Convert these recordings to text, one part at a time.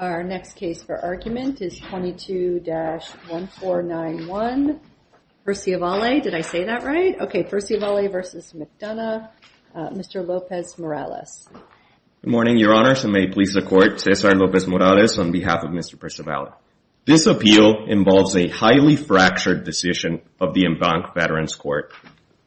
Our next case for argument is 22-1491, Perciavalle, did I say that right? Okay, Perciavalle v. McDonough. Mr. Lopez-Morales. Good morning, your honors, and may it please the court, Cesar Lopez-Morales on behalf of Mr. Perciavalle. This appeal involves a highly fractured decision of the Embank Veterans Court.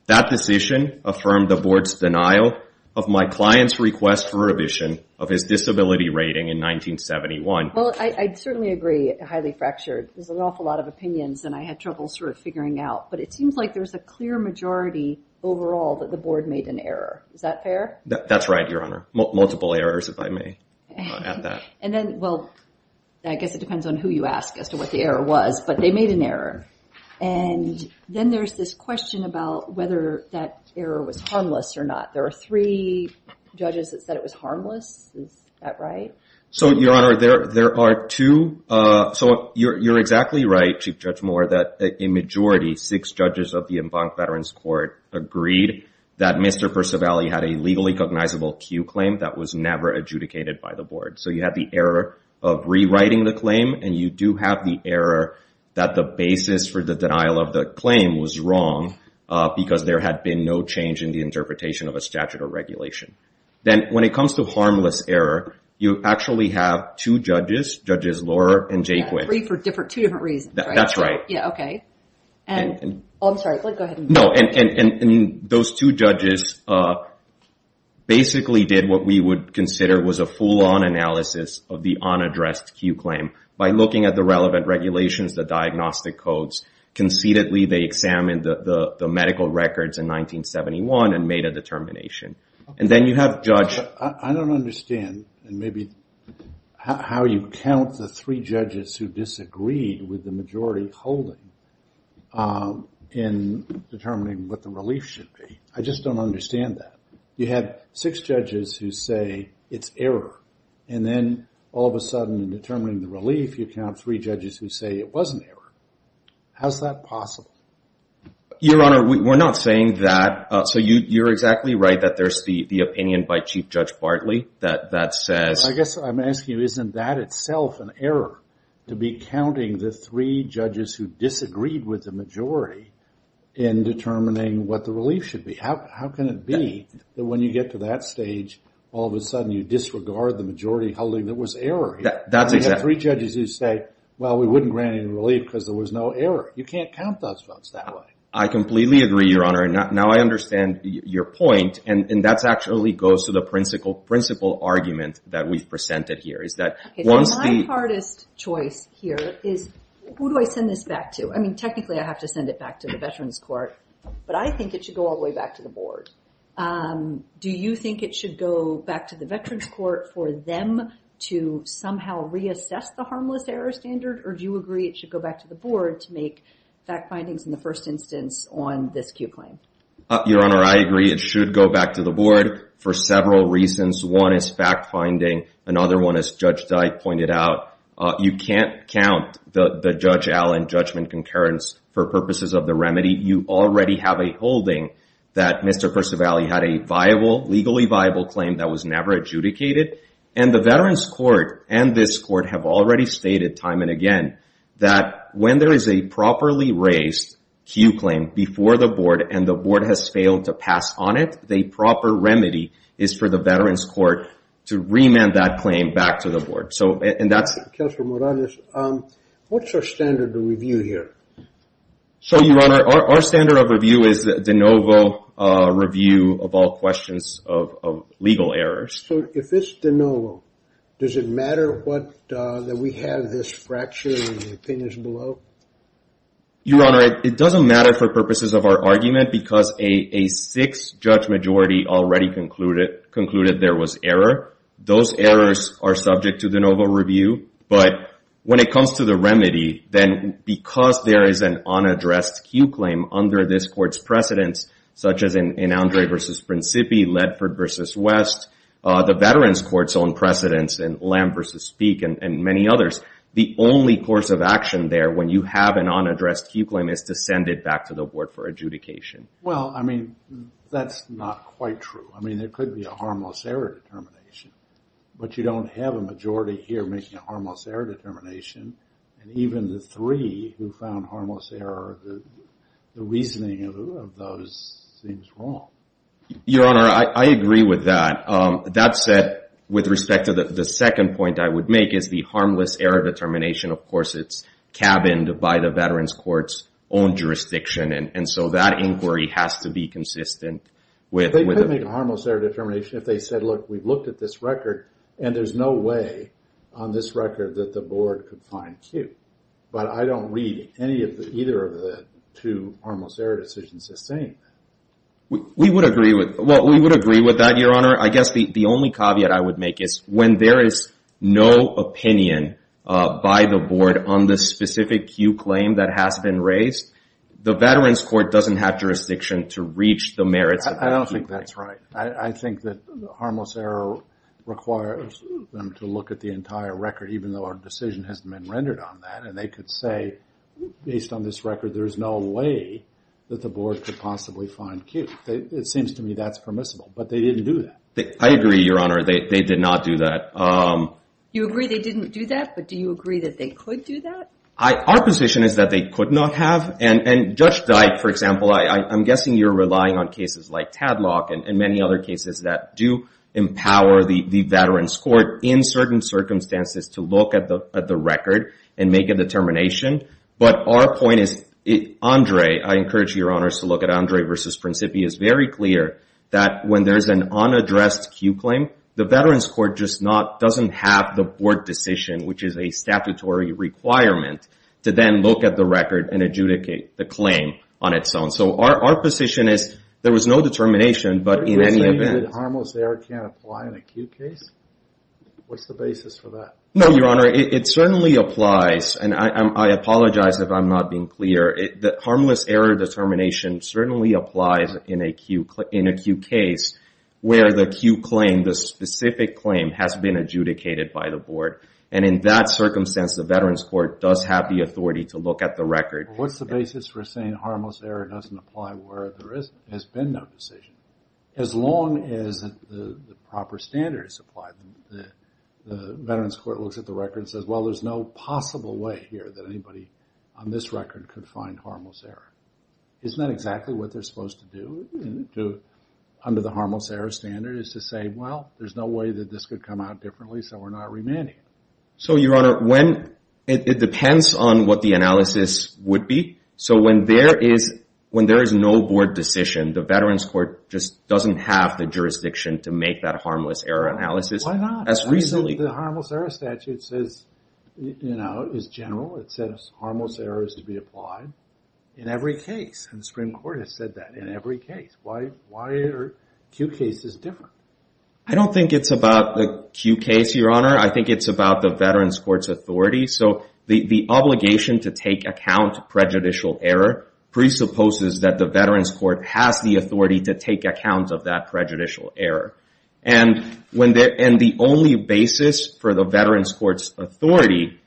That decision affirmed the board's denial of my client's request for revision of his disability rating in 1971. Well, I certainly agree, highly fractured. There's an awful lot of opinions and I had trouble sort of figuring out, but it seems like there's a clear majority overall that the board made an error, is that fair? That's right, your honor, multiple errors, if I may add that. And then, well, I guess it depends on who you ask as to what the error was, but they made an error. And then there's this question about whether that error was harmless or not. There are three judges that said it was harmless. Is that right? So your honor, there are two. So you're exactly right, Chief Judge Moore, that a majority, six judges of the Embank Veterans Court agreed that Mr. Perciavalle had a legally cognizable Q claim that was never adjudicated by the board. So you have the error of rewriting the claim and you do have the error that the basis for the denial of the claim was wrong because there had been no change in the interpretation of a statute or regulation. Then when it comes to harmless error, you actually have two judges, Judges Lohrer and Jayquith. Three for two different reasons, right? That's right. Yeah, okay. Oh, I'm sorry, go ahead. No, and those two judges basically did what we would consider was a full-on analysis of the unaddressed Q claim. By looking at the relevant regulations, the diagnostic codes, conceitedly, they examined the medical records in 1971 and made a determination. And then you have Judge... I don't understand, and maybe how you count the three judges who disagreed with the majority holding in determining what the relief should be. I just don't understand that. You had six judges who say it's error and then all of a sudden in determining the relief, you count three judges who say it was an error. How's that possible? Your Honor, we're not saying that. So you're exactly right that there's the opinion by Chief Judge Bartley that says... I guess I'm asking you, isn't that itself an error? To be counting the three judges who disagreed with the majority in determining what the relief should be? How can it be that when you get to that stage, all of a sudden you disregard the majority holding that was error here? That's exactly... And you have three judges who say, well, we wouldn't grant any relief because there was no error. You can't count those votes that way. I completely agree, Your Honor. Now I understand your point, and that actually goes to the principal argument that we've presented here, is that once the... My hardest choice here is, who do I send this back to? I mean, technically I have to send it back to the Veterans Court, but I think it should go all the way back to the board. Do you think it should go back to the Veterans Court for them to somehow reassess the harmless error standard, or do you agree it should go back to the board to make fact findings in the first instance on this cute claim? Your Honor, I agree. It should go back to the board for several reasons. One is fact finding. Another one, as Judge Dyke pointed out, you can't count the Judge Allen judgment concurrence for purposes of the remedy. You already have a holding that Mr. Percivali had a viable, legally viable claim that was never adjudicated, and the Veterans Court and this court have already stated time and again that when there is a properly raised Q claim before the board and the board has failed to pass on it, the proper remedy is for the Veterans Court to remand that claim back to the board. So, and that's... Counselor Morales, what's our standard of review here? So, Your Honor, our standard of review is de novo review of all questions of legal errors. So, if it's de novo, does it matter that we have this fracture in the opinions below? Your Honor, it doesn't matter for purposes of our argument because a sixth judge majority already concluded there was error. Those errors are subject to de novo review, but when it comes to the remedy, then because there is an unaddressed Q claim under this court's precedence, such as in Andre versus Principi, Ledford versus West, the Veterans Court's own precedence in Lamb versus Speak and many others, the only course of action there when you have an unaddressed Q claim is to send it back to the board for adjudication. Well, I mean, that's not quite true. I mean, there could be a harmless error determination, but you don't have a majority here making a harmless error determination. And even the three who found harmless error, the reasoning of those seems wrong. Your Honor, I agree with that. That said, with respect to the second point I would make is the harmless error determination, of course, it's cabined by the Veterans Court's own jurisdiction. And so that inquiry has to be consistent with- They couldn't make a harmless error determination if they said, look, we've looked at this record and there's no way on this record that the board could find Q. But I don't read any of either of the two harmless error decisions as saying that. We would agree with that, Your Honor. I guess the only caveat I would make is when there is no opinion by the board on the specific Q claim that has been raised, the Veterans Court doesn't have jurisdiction to reach the merits of that Q claim. I don't think that's right. I think that the harmless error requires them to look at the entire record, even though our decision hasn't been rendered on that. And they could say, based on this record, there's no way that the board could possibly find Q. It seems to me that's permissible, but they didn't do that. I agree, Your Honor. They did not do that. You agree they didn't do that, but do you agree that they could do that? Our position is that they could not have. And Judge Dyke, for example, I'm guessing you're relying on cases like Tadlock and many other cases that do empower the Veterans Court in certain circumstances to look at the record and make a determination. But our point is, Andre, I encourage Your Honors to look at Andre versus Principi, is very clear that when there's an unaddressed Q claim, the Veterans Court just doesn't have the board decision, which is a statutory requirement, to then look at the record and adjudicate the claim on its own. So our position is there was no determination, but in any event- Are you saying that harmless error can't apply in a Q case? What's the basis for that? No, Your Honor, it certainly applies. And I apologize if I'm not being clear. The harmless error determination certainly applies in a Q case where the Q claim, the specific claim, has been adjudicated by the board. And in that circumstance, the Veterans Court does have the authority to look at the record. What's the basis for saying harmless error doesn't apply where there has been no decision? As long as the proper standards apply. The Veterans Court looks at the record and says, well, there's no possible way here that anybody on this record could find harmless error. Isn't that exactly what they're supposed to do under the harmless error standard, is to say, well, there's no way that this could come out differently, so we're not remanding it. So, Your Honor, it depends on what the analysis would be. So when there is no board decision, the Veterans Court just doesn't have the jurisdiction to make that harmless error analysis. Why not? As recently- The harmless error statute says, you know, is general, it says harmless error is to be applied in every case, and the Supreme Court has said that, in every case. Why are Q cases different? I don't think it's about the Q case, Your Honor. I think it's about the Veterans Court's authority. So the obligation to take account of prejudicial error presupposes that the Veterans Court has the authority to take account of that prejudicial error. And the only basis for the Veterans Court's authority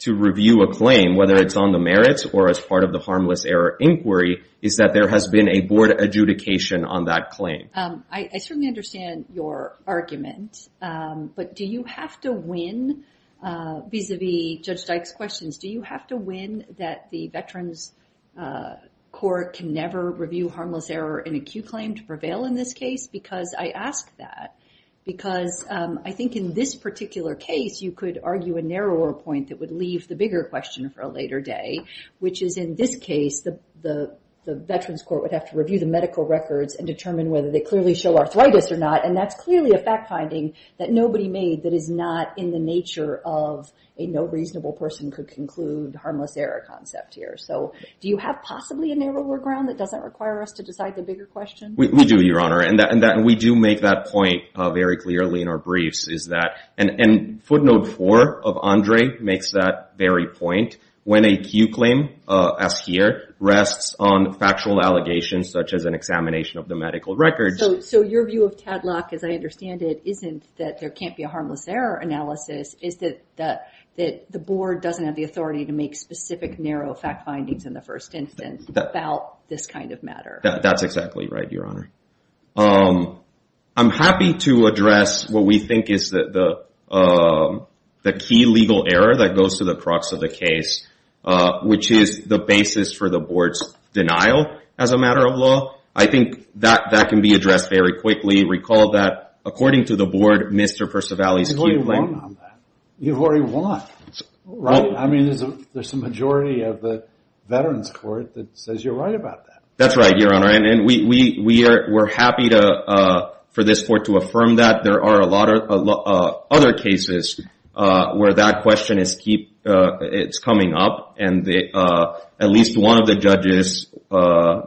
to review a claim, whether it's on the merits or as part of the harmless error inquiry, is that there has been a board adjudication on that claim. I certainly understand your argument, but do you have to win, vis-a-vis Judge Dyke's questions, do you have to win that the Veterans Court can never review harmless error in a Q claim to prevail in this case? Because I ask that, because I think in this particular case, you could argue a narrower point that would leave the bigger question for a later day, which is in this case, the Veterans Court would have to review the medical records and determine whether they clearly show arthritis or not, and that's clearly a fact-finding that nobody made that is not in the nature of a no reasonable person could conclude harmless error concept here. So do you have possibly a narrower ground that doesn't require us to decide the bigger question? We do, Your Honor, and we do make that point very clearly in our briefs, is that, and footnote four of Andre makes that very point, when a Q claim, as here, rests on factual allegations such as an examination of the medical records. So your view of Tadlock, as I understand it, isn't that there can't be a harmless error analysis, is that the board doesn't have the authority to make specific narrow fact-findings in the first instance about this kind of matter. That's exactly right, Your Honor. I'm happy to address what we think is the key legal error that goes to the crux of the case, which is the basis for the board's denial as a matter of law. I think that can be addressed very quickly. Recall that, according to the board, Mr. Percivali's Q claim. I think we've already won on that. You've already won, right? I mean, there's a majority of the Veterans Court that says you're right about that. That's right, Your Honor. And we're happy for this court to affirm that. There are a lot of other cases where that question is coming up, and at least one of the judges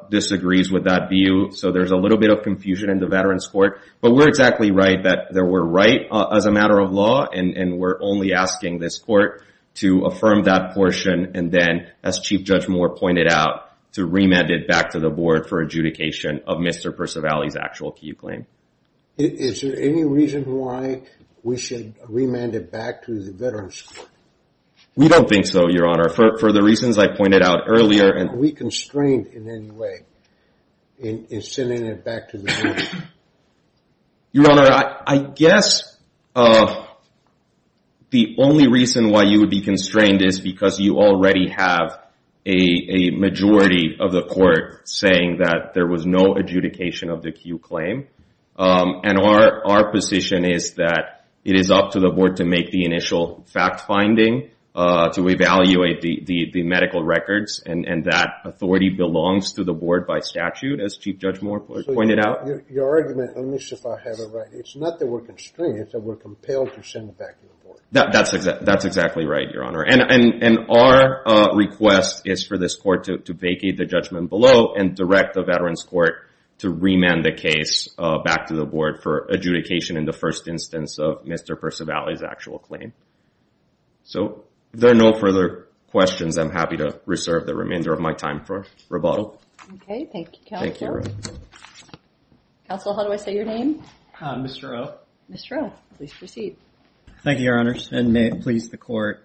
disagrees with that view. So there's a little bit of confusion in the Veterans Court. But we're exactly right, that we're right as a matter of law, and we're only asking this court to affirm that portion, and then, as Chief Judge Moore pointed out, to remand it back to the board for adjudication of Mr. Percivali's actual Q claim. Is there any reason why we should remand it back to the Veterans Court? We don't think so, Your Honor. For the reasons I pointed out earlier. Are we constrained in any way in sending it back to the board? Your Honor, I guess the only reason why you would be constrained is because you already have a majority of the court saying that there was no adjudication of the Q claim. And our position is that it is up to the board to make the initial fact-finding, to evaluate the medical records, and that authority belongs to the board by statute, as Chief Judge Moore pointed out. Your argument, let me see if I have it right. It's not that we're constrained, it's that we're compelled to send it back to the board. That's exactly right, Your Honor. And our request is for this court to vacate the judgment below and direct the Veterans Court to remand the case back to the board for adjudication in the first instance of Mr. Percivali's actual claim. So, if there are no further questions, I'm happy to reserve the remainder of my time for rebuttal. Okay, thank you, counsel. Counsel, how do I say your name? Mr. O. Mr. O, please proceed. Thank you, Your Honor. And may it please the court.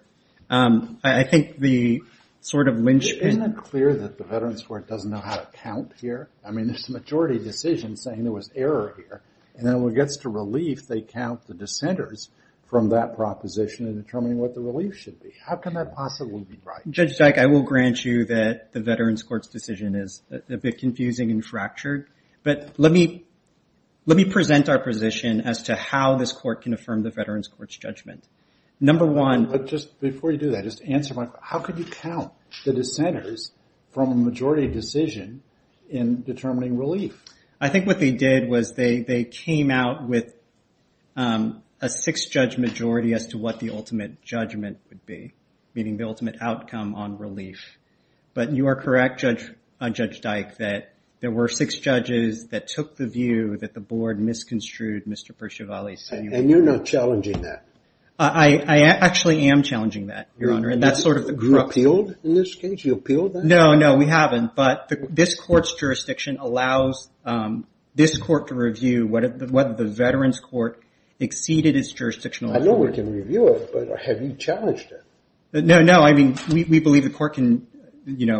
I think the sort of linchpin- Isn't it clear that the Veterans Court doesn't know how to count here? I mean, there's a majority decision saying there was error here, and then when it gets to relief, they count the dissenters from that proposition in determining what the relief should be. How can that possibly be right? Judge Dyke, I will grant you that the Veterans Court's decision is a bit confusing and fractured, but let me present our position as to how this court can affirm the Veterans Court's judgment. Number one- But just before you do that, just to answer my- How could you count the dissenters from a majority decision in determining relief? I think what they did was they came out with a six-judge majority as to what the ultimate judgment would be, meaning the ultimate outcome on relief. But you are correct, Judge Dyke, that there were six judges that took the view that the board misconstrued Mr. Percivali's statement. And you're not challenging that? I actually am challenging that, Your Honor, and that's sort of the- Were you appealed in this case? You appealed that? No, no, we haven't, but this court's jurisdiction allows this court to review whether the Veterans Court exceeded its jurisdictional authority. I know we can review it, but have you challenged it? No, no, I mean, we believe the court can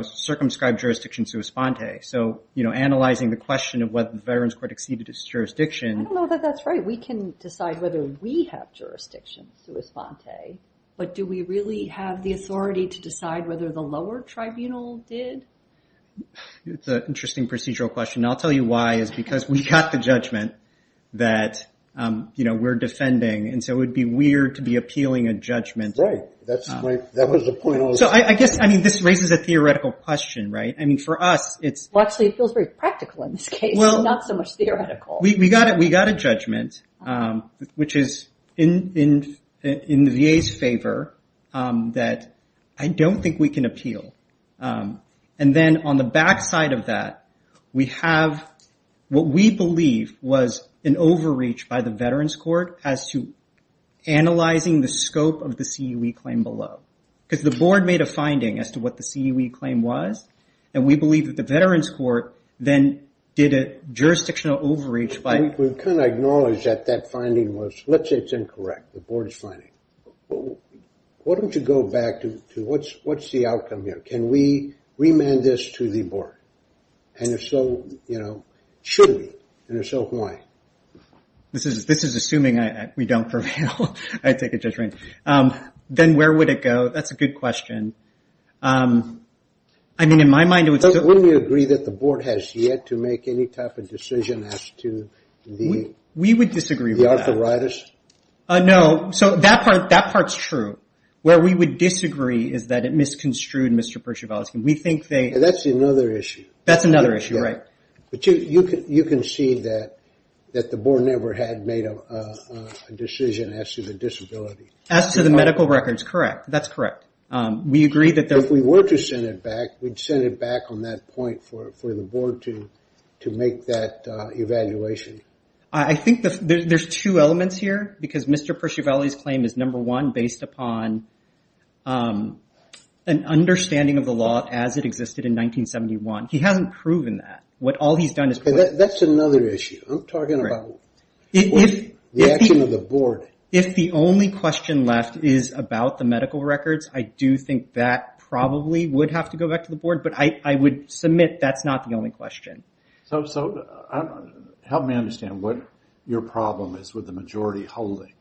circumscribe jurisdiction sui sponte, so analyzing the question of whether the Veterans Court exceeded its jurisdiction- I don't know that that's right. We can decide whether we have jurisdiction sui sponte, but do we really have the authority to decide whether the lower tribunal did? It's an interesting procedural question, and I'll tell you why, is because we got the judgment that we're defending, and so it would be weird to be appealing a judgment- Right, that was the point I was- So, I guess, I mean, this raises a theoretical question, right? I mean, for us, it's- Well, actually, it feels very practical in this case. Well- Not so much theoretical. We got a judgment, which is in the VA's favor, that I don't think we can appeal, and then on the backside of that, we have what we believe was an overreach by the Veterans Court as to analyzing the scope of the CUE claim below, because the board made a finding as to what the CUE claim was, and we believe that the Veterans Court then did a jurisdictional overreach by- We've kind of acknowledged that that finding was, let's say it's incorrect, the board's finding. Why don't you go back to what's the outcome here? Can we remand this to the board? And if so, should we? And if so, why? This is assuming we don't prevail. I take a judgment. Then where would it go? That's a good question. I mean, in my mind, it would still- The board has yet to make any type of decision as to the arthritis? We would disagree with that. No, so that part's true. is that it misconstrued, Mr. Przewalski. We think they- That's another issue. That's another issue, right. But you can see that the board never had made a decision as to the disability. As to the medical records, correct. That's correct. We agree that there- If we were to send it back, we'd send it back on that point for the board to make that evaluation. I think there's two elements here because Mr. Przewalski's claim is number one, based upon an understanding of the law as it existed in 1971. He hasn't proven that. What all he's done is- That's another issue. I'm talking about the action of the board. If the only question left is about the medical records, I do think that probably would have to go back to the board, but I would submit that's not the only question. So help me understand what your problem is with the majority holding.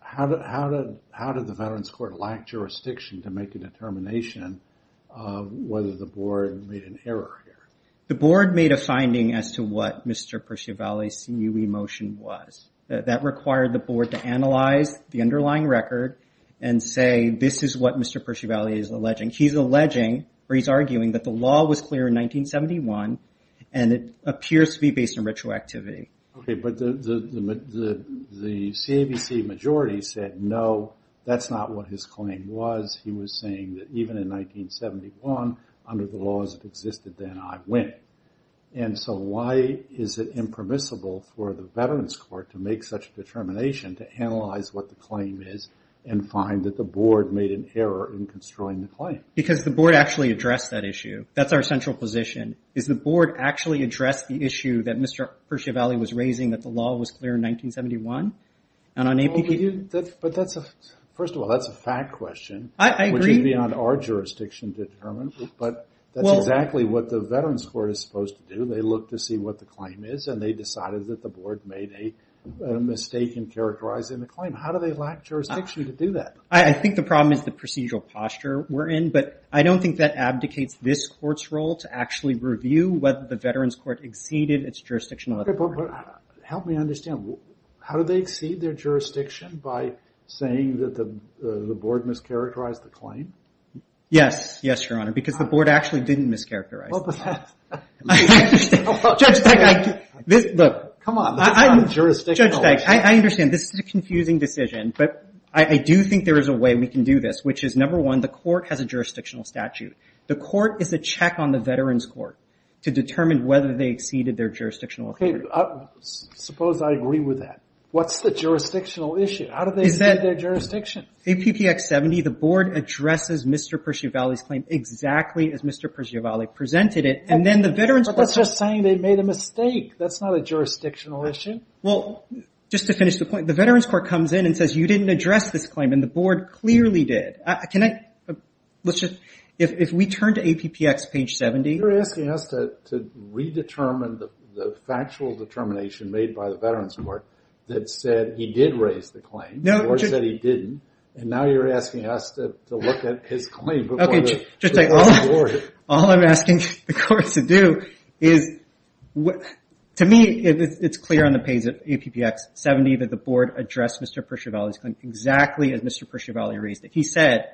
How did the Veterans Court lack jurisdiction to make a determination of whether the board made an error here? The board made a finding as to what Mr. Przewalski's CUE motion was. That required the board to analyze the underlying record and say, this is what Mr. Przewalski is alleging. He's alleging, or he's arguing, that the law was clear in 1971 and it appears to be based on retroactivity. Okay, but the CABC majority said, no, that's not what his claim was. He was saying that even in 1971, under the laws that existed then, I win. And so why is it impermissible for the Veterans Court to make such a determination to analyze what the claim is and find that the board made an error in construing the claim? Because the board actually addressed that issue. That's our central position. Is the board actually addressed the issue that Mr. Przewalski was raising, that the law was clear in 1971? And on APP? But that's a, first of all, that's a fact question. I agree. Which is beyond our jurisdiction to determine. But that's exactly what the Veterans Court is supposed to do. They look to see what the claim is and they decided that the board made a mistake in characterizing the claim. How do they lack jurisdiction to do that? I think the problem is the procedural posture we're in, but I don't think that abdicates this court's role to actually review whether the Veterans Court exceeded its jurisdictional authority. Help me understand. How do they exceed their jurisdiction by saying that the board mischaracterized the claim? Yes, yes, Your Honor, because the board actually didn't mischaracterize the claim. Well, but that's. I understand. Judge Teich, this, look. Come on, that's not a jurisdictional issue. Judge Teich, I understand. This is a confusing decision, but I do think there is a way we can do this, which is, number one, the court has a jurisdictional statute. The court is a check on the Veterans Court to determine whether they exceeded their jurisdictional authority. Suppose I agree with that. What's the jurisdictional issue? How do they exceed their jurisdiction? APPX 70, the board addresses Mr. Persiavalli's claim exactly as Mr. Persiavalli presented it, and then the Veterans Court. But that's just saying they made a mistake. That's not a jurisdictional issue. Well, just to finish the point, the Veterans Court comes in and says, you didn't address this claim, and the board clearly did. Can I, let's just, if we turn to APPX page 70. You're asking us to redetermine the factual determination made by the Veterans Court that said he did raise the claim. No. The board said he didn't, and now you're asking us to look at his claim before the board. Okay, Judge Teich, all I'm asking the court to do is, to me, it's clear on the page of APPX 70 that the board addressed Mr. Persiavalli's claim exactly as Mr. Persiavalli raised it. He said,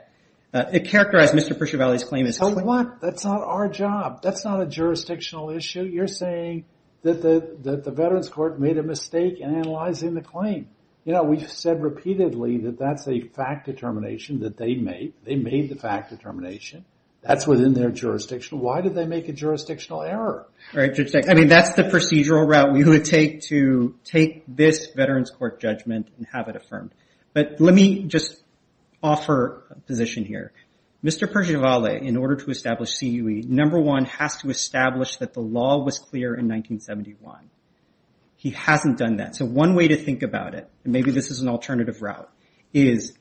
it characterized Mr. Persiavalli's claim as his claim. So what? That's not our job. That's not a jurisdictional issue. You're saying that the Veterans Court made a mistake in analyzing the claim. You know, we've said repeatedly that that's a fact determination that they made. They made the fact determination. That's within their jurisdiction. Why did they make a jurisdictional error? All right, Judge Teich. I mean, that's the procedural route we would take to take this Veterans Court judgment and have it affirmed. But let me just offer a position here. Mr. Persiavalli, in order to establish CUE, number one, has to establish that the law was clear in 1971. He hasn't done that. So one way to think about it, and maybe this is an alternative route, is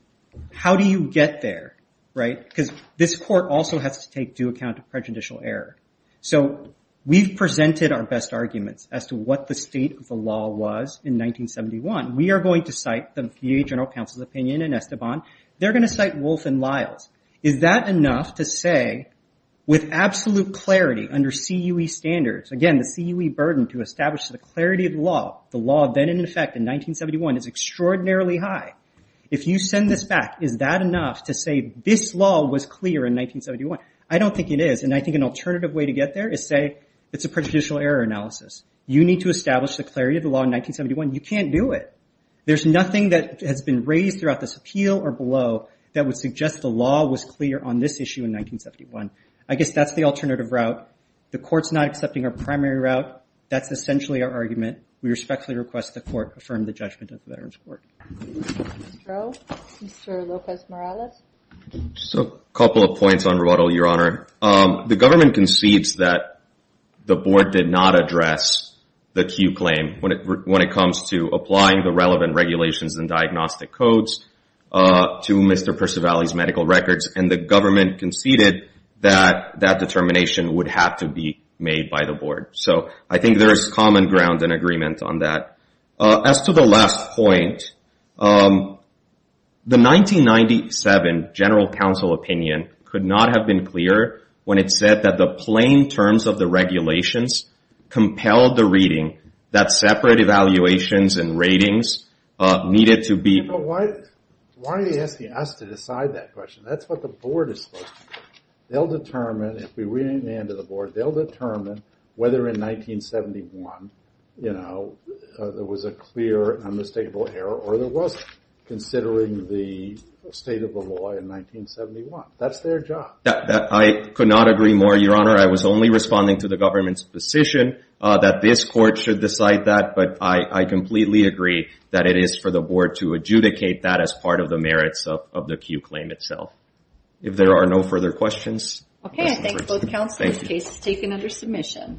how do you get there, right? Because this court also has to take due account of prejudicial error. So we've presented our best arguments as to what the state of the law was in 1971. We are going to cite the VA General Counsel's opinion in Esteban. They're gonna cite Wolfe and Lyles. Is that enough to say, with absolute clarity under CUE standards, again, the CUE burden to establish the clarity of the law, the law then in effect in 1971 is extraordinarily high. If you send this back, is that enough to say this law was clear in 1971? I don't think it is. And I think an alternative way to get there is say it's a prejudicial error analysis. You need to establish the clarity of the law in 1971. You can't do it. There's nothing that has been raised throughout this appeal or below that would suggest the law was clear on this issue in 1971. I guess that's the alternative route. The court's not accepting our primary route. That's essentially our argument. We respectfully request the court affirm the judgment of the Veterans Court. Mr. O, Mr. Lopez-Morales. So a couple of points on Roboto, Your Honor. The government concedes that the board did not address the CUE claim when it comes to applying the relevant regulations and diagnostic codes to Mr. Percivali's medical records. And the government conceded that that determination would have to be made by the board. So I think there is common ground and agreement on that. As to the last point, the 1997 general counsel opinion could not have been clearer when it said that the plain terms of the regulations compelled the reading that separate evaluations and ratings needed to be. But why are they asking us to decide that question? That's what the board is supposed to do. They'll determine, if we really hand it to the board, they'll determine whether in 1971 there was a clear and unmistakable error or there wasn't, considering the state of the law in 1971. That's their job. I could not agree more, Your Honor. I was only responding to the government's position that this court should decide that, but I completely agree that it is for the board to adjudicate that as part of the merits of the CUE claim itself. If there are no further questions. Okay, I thank both counsel. This case is taken under submission.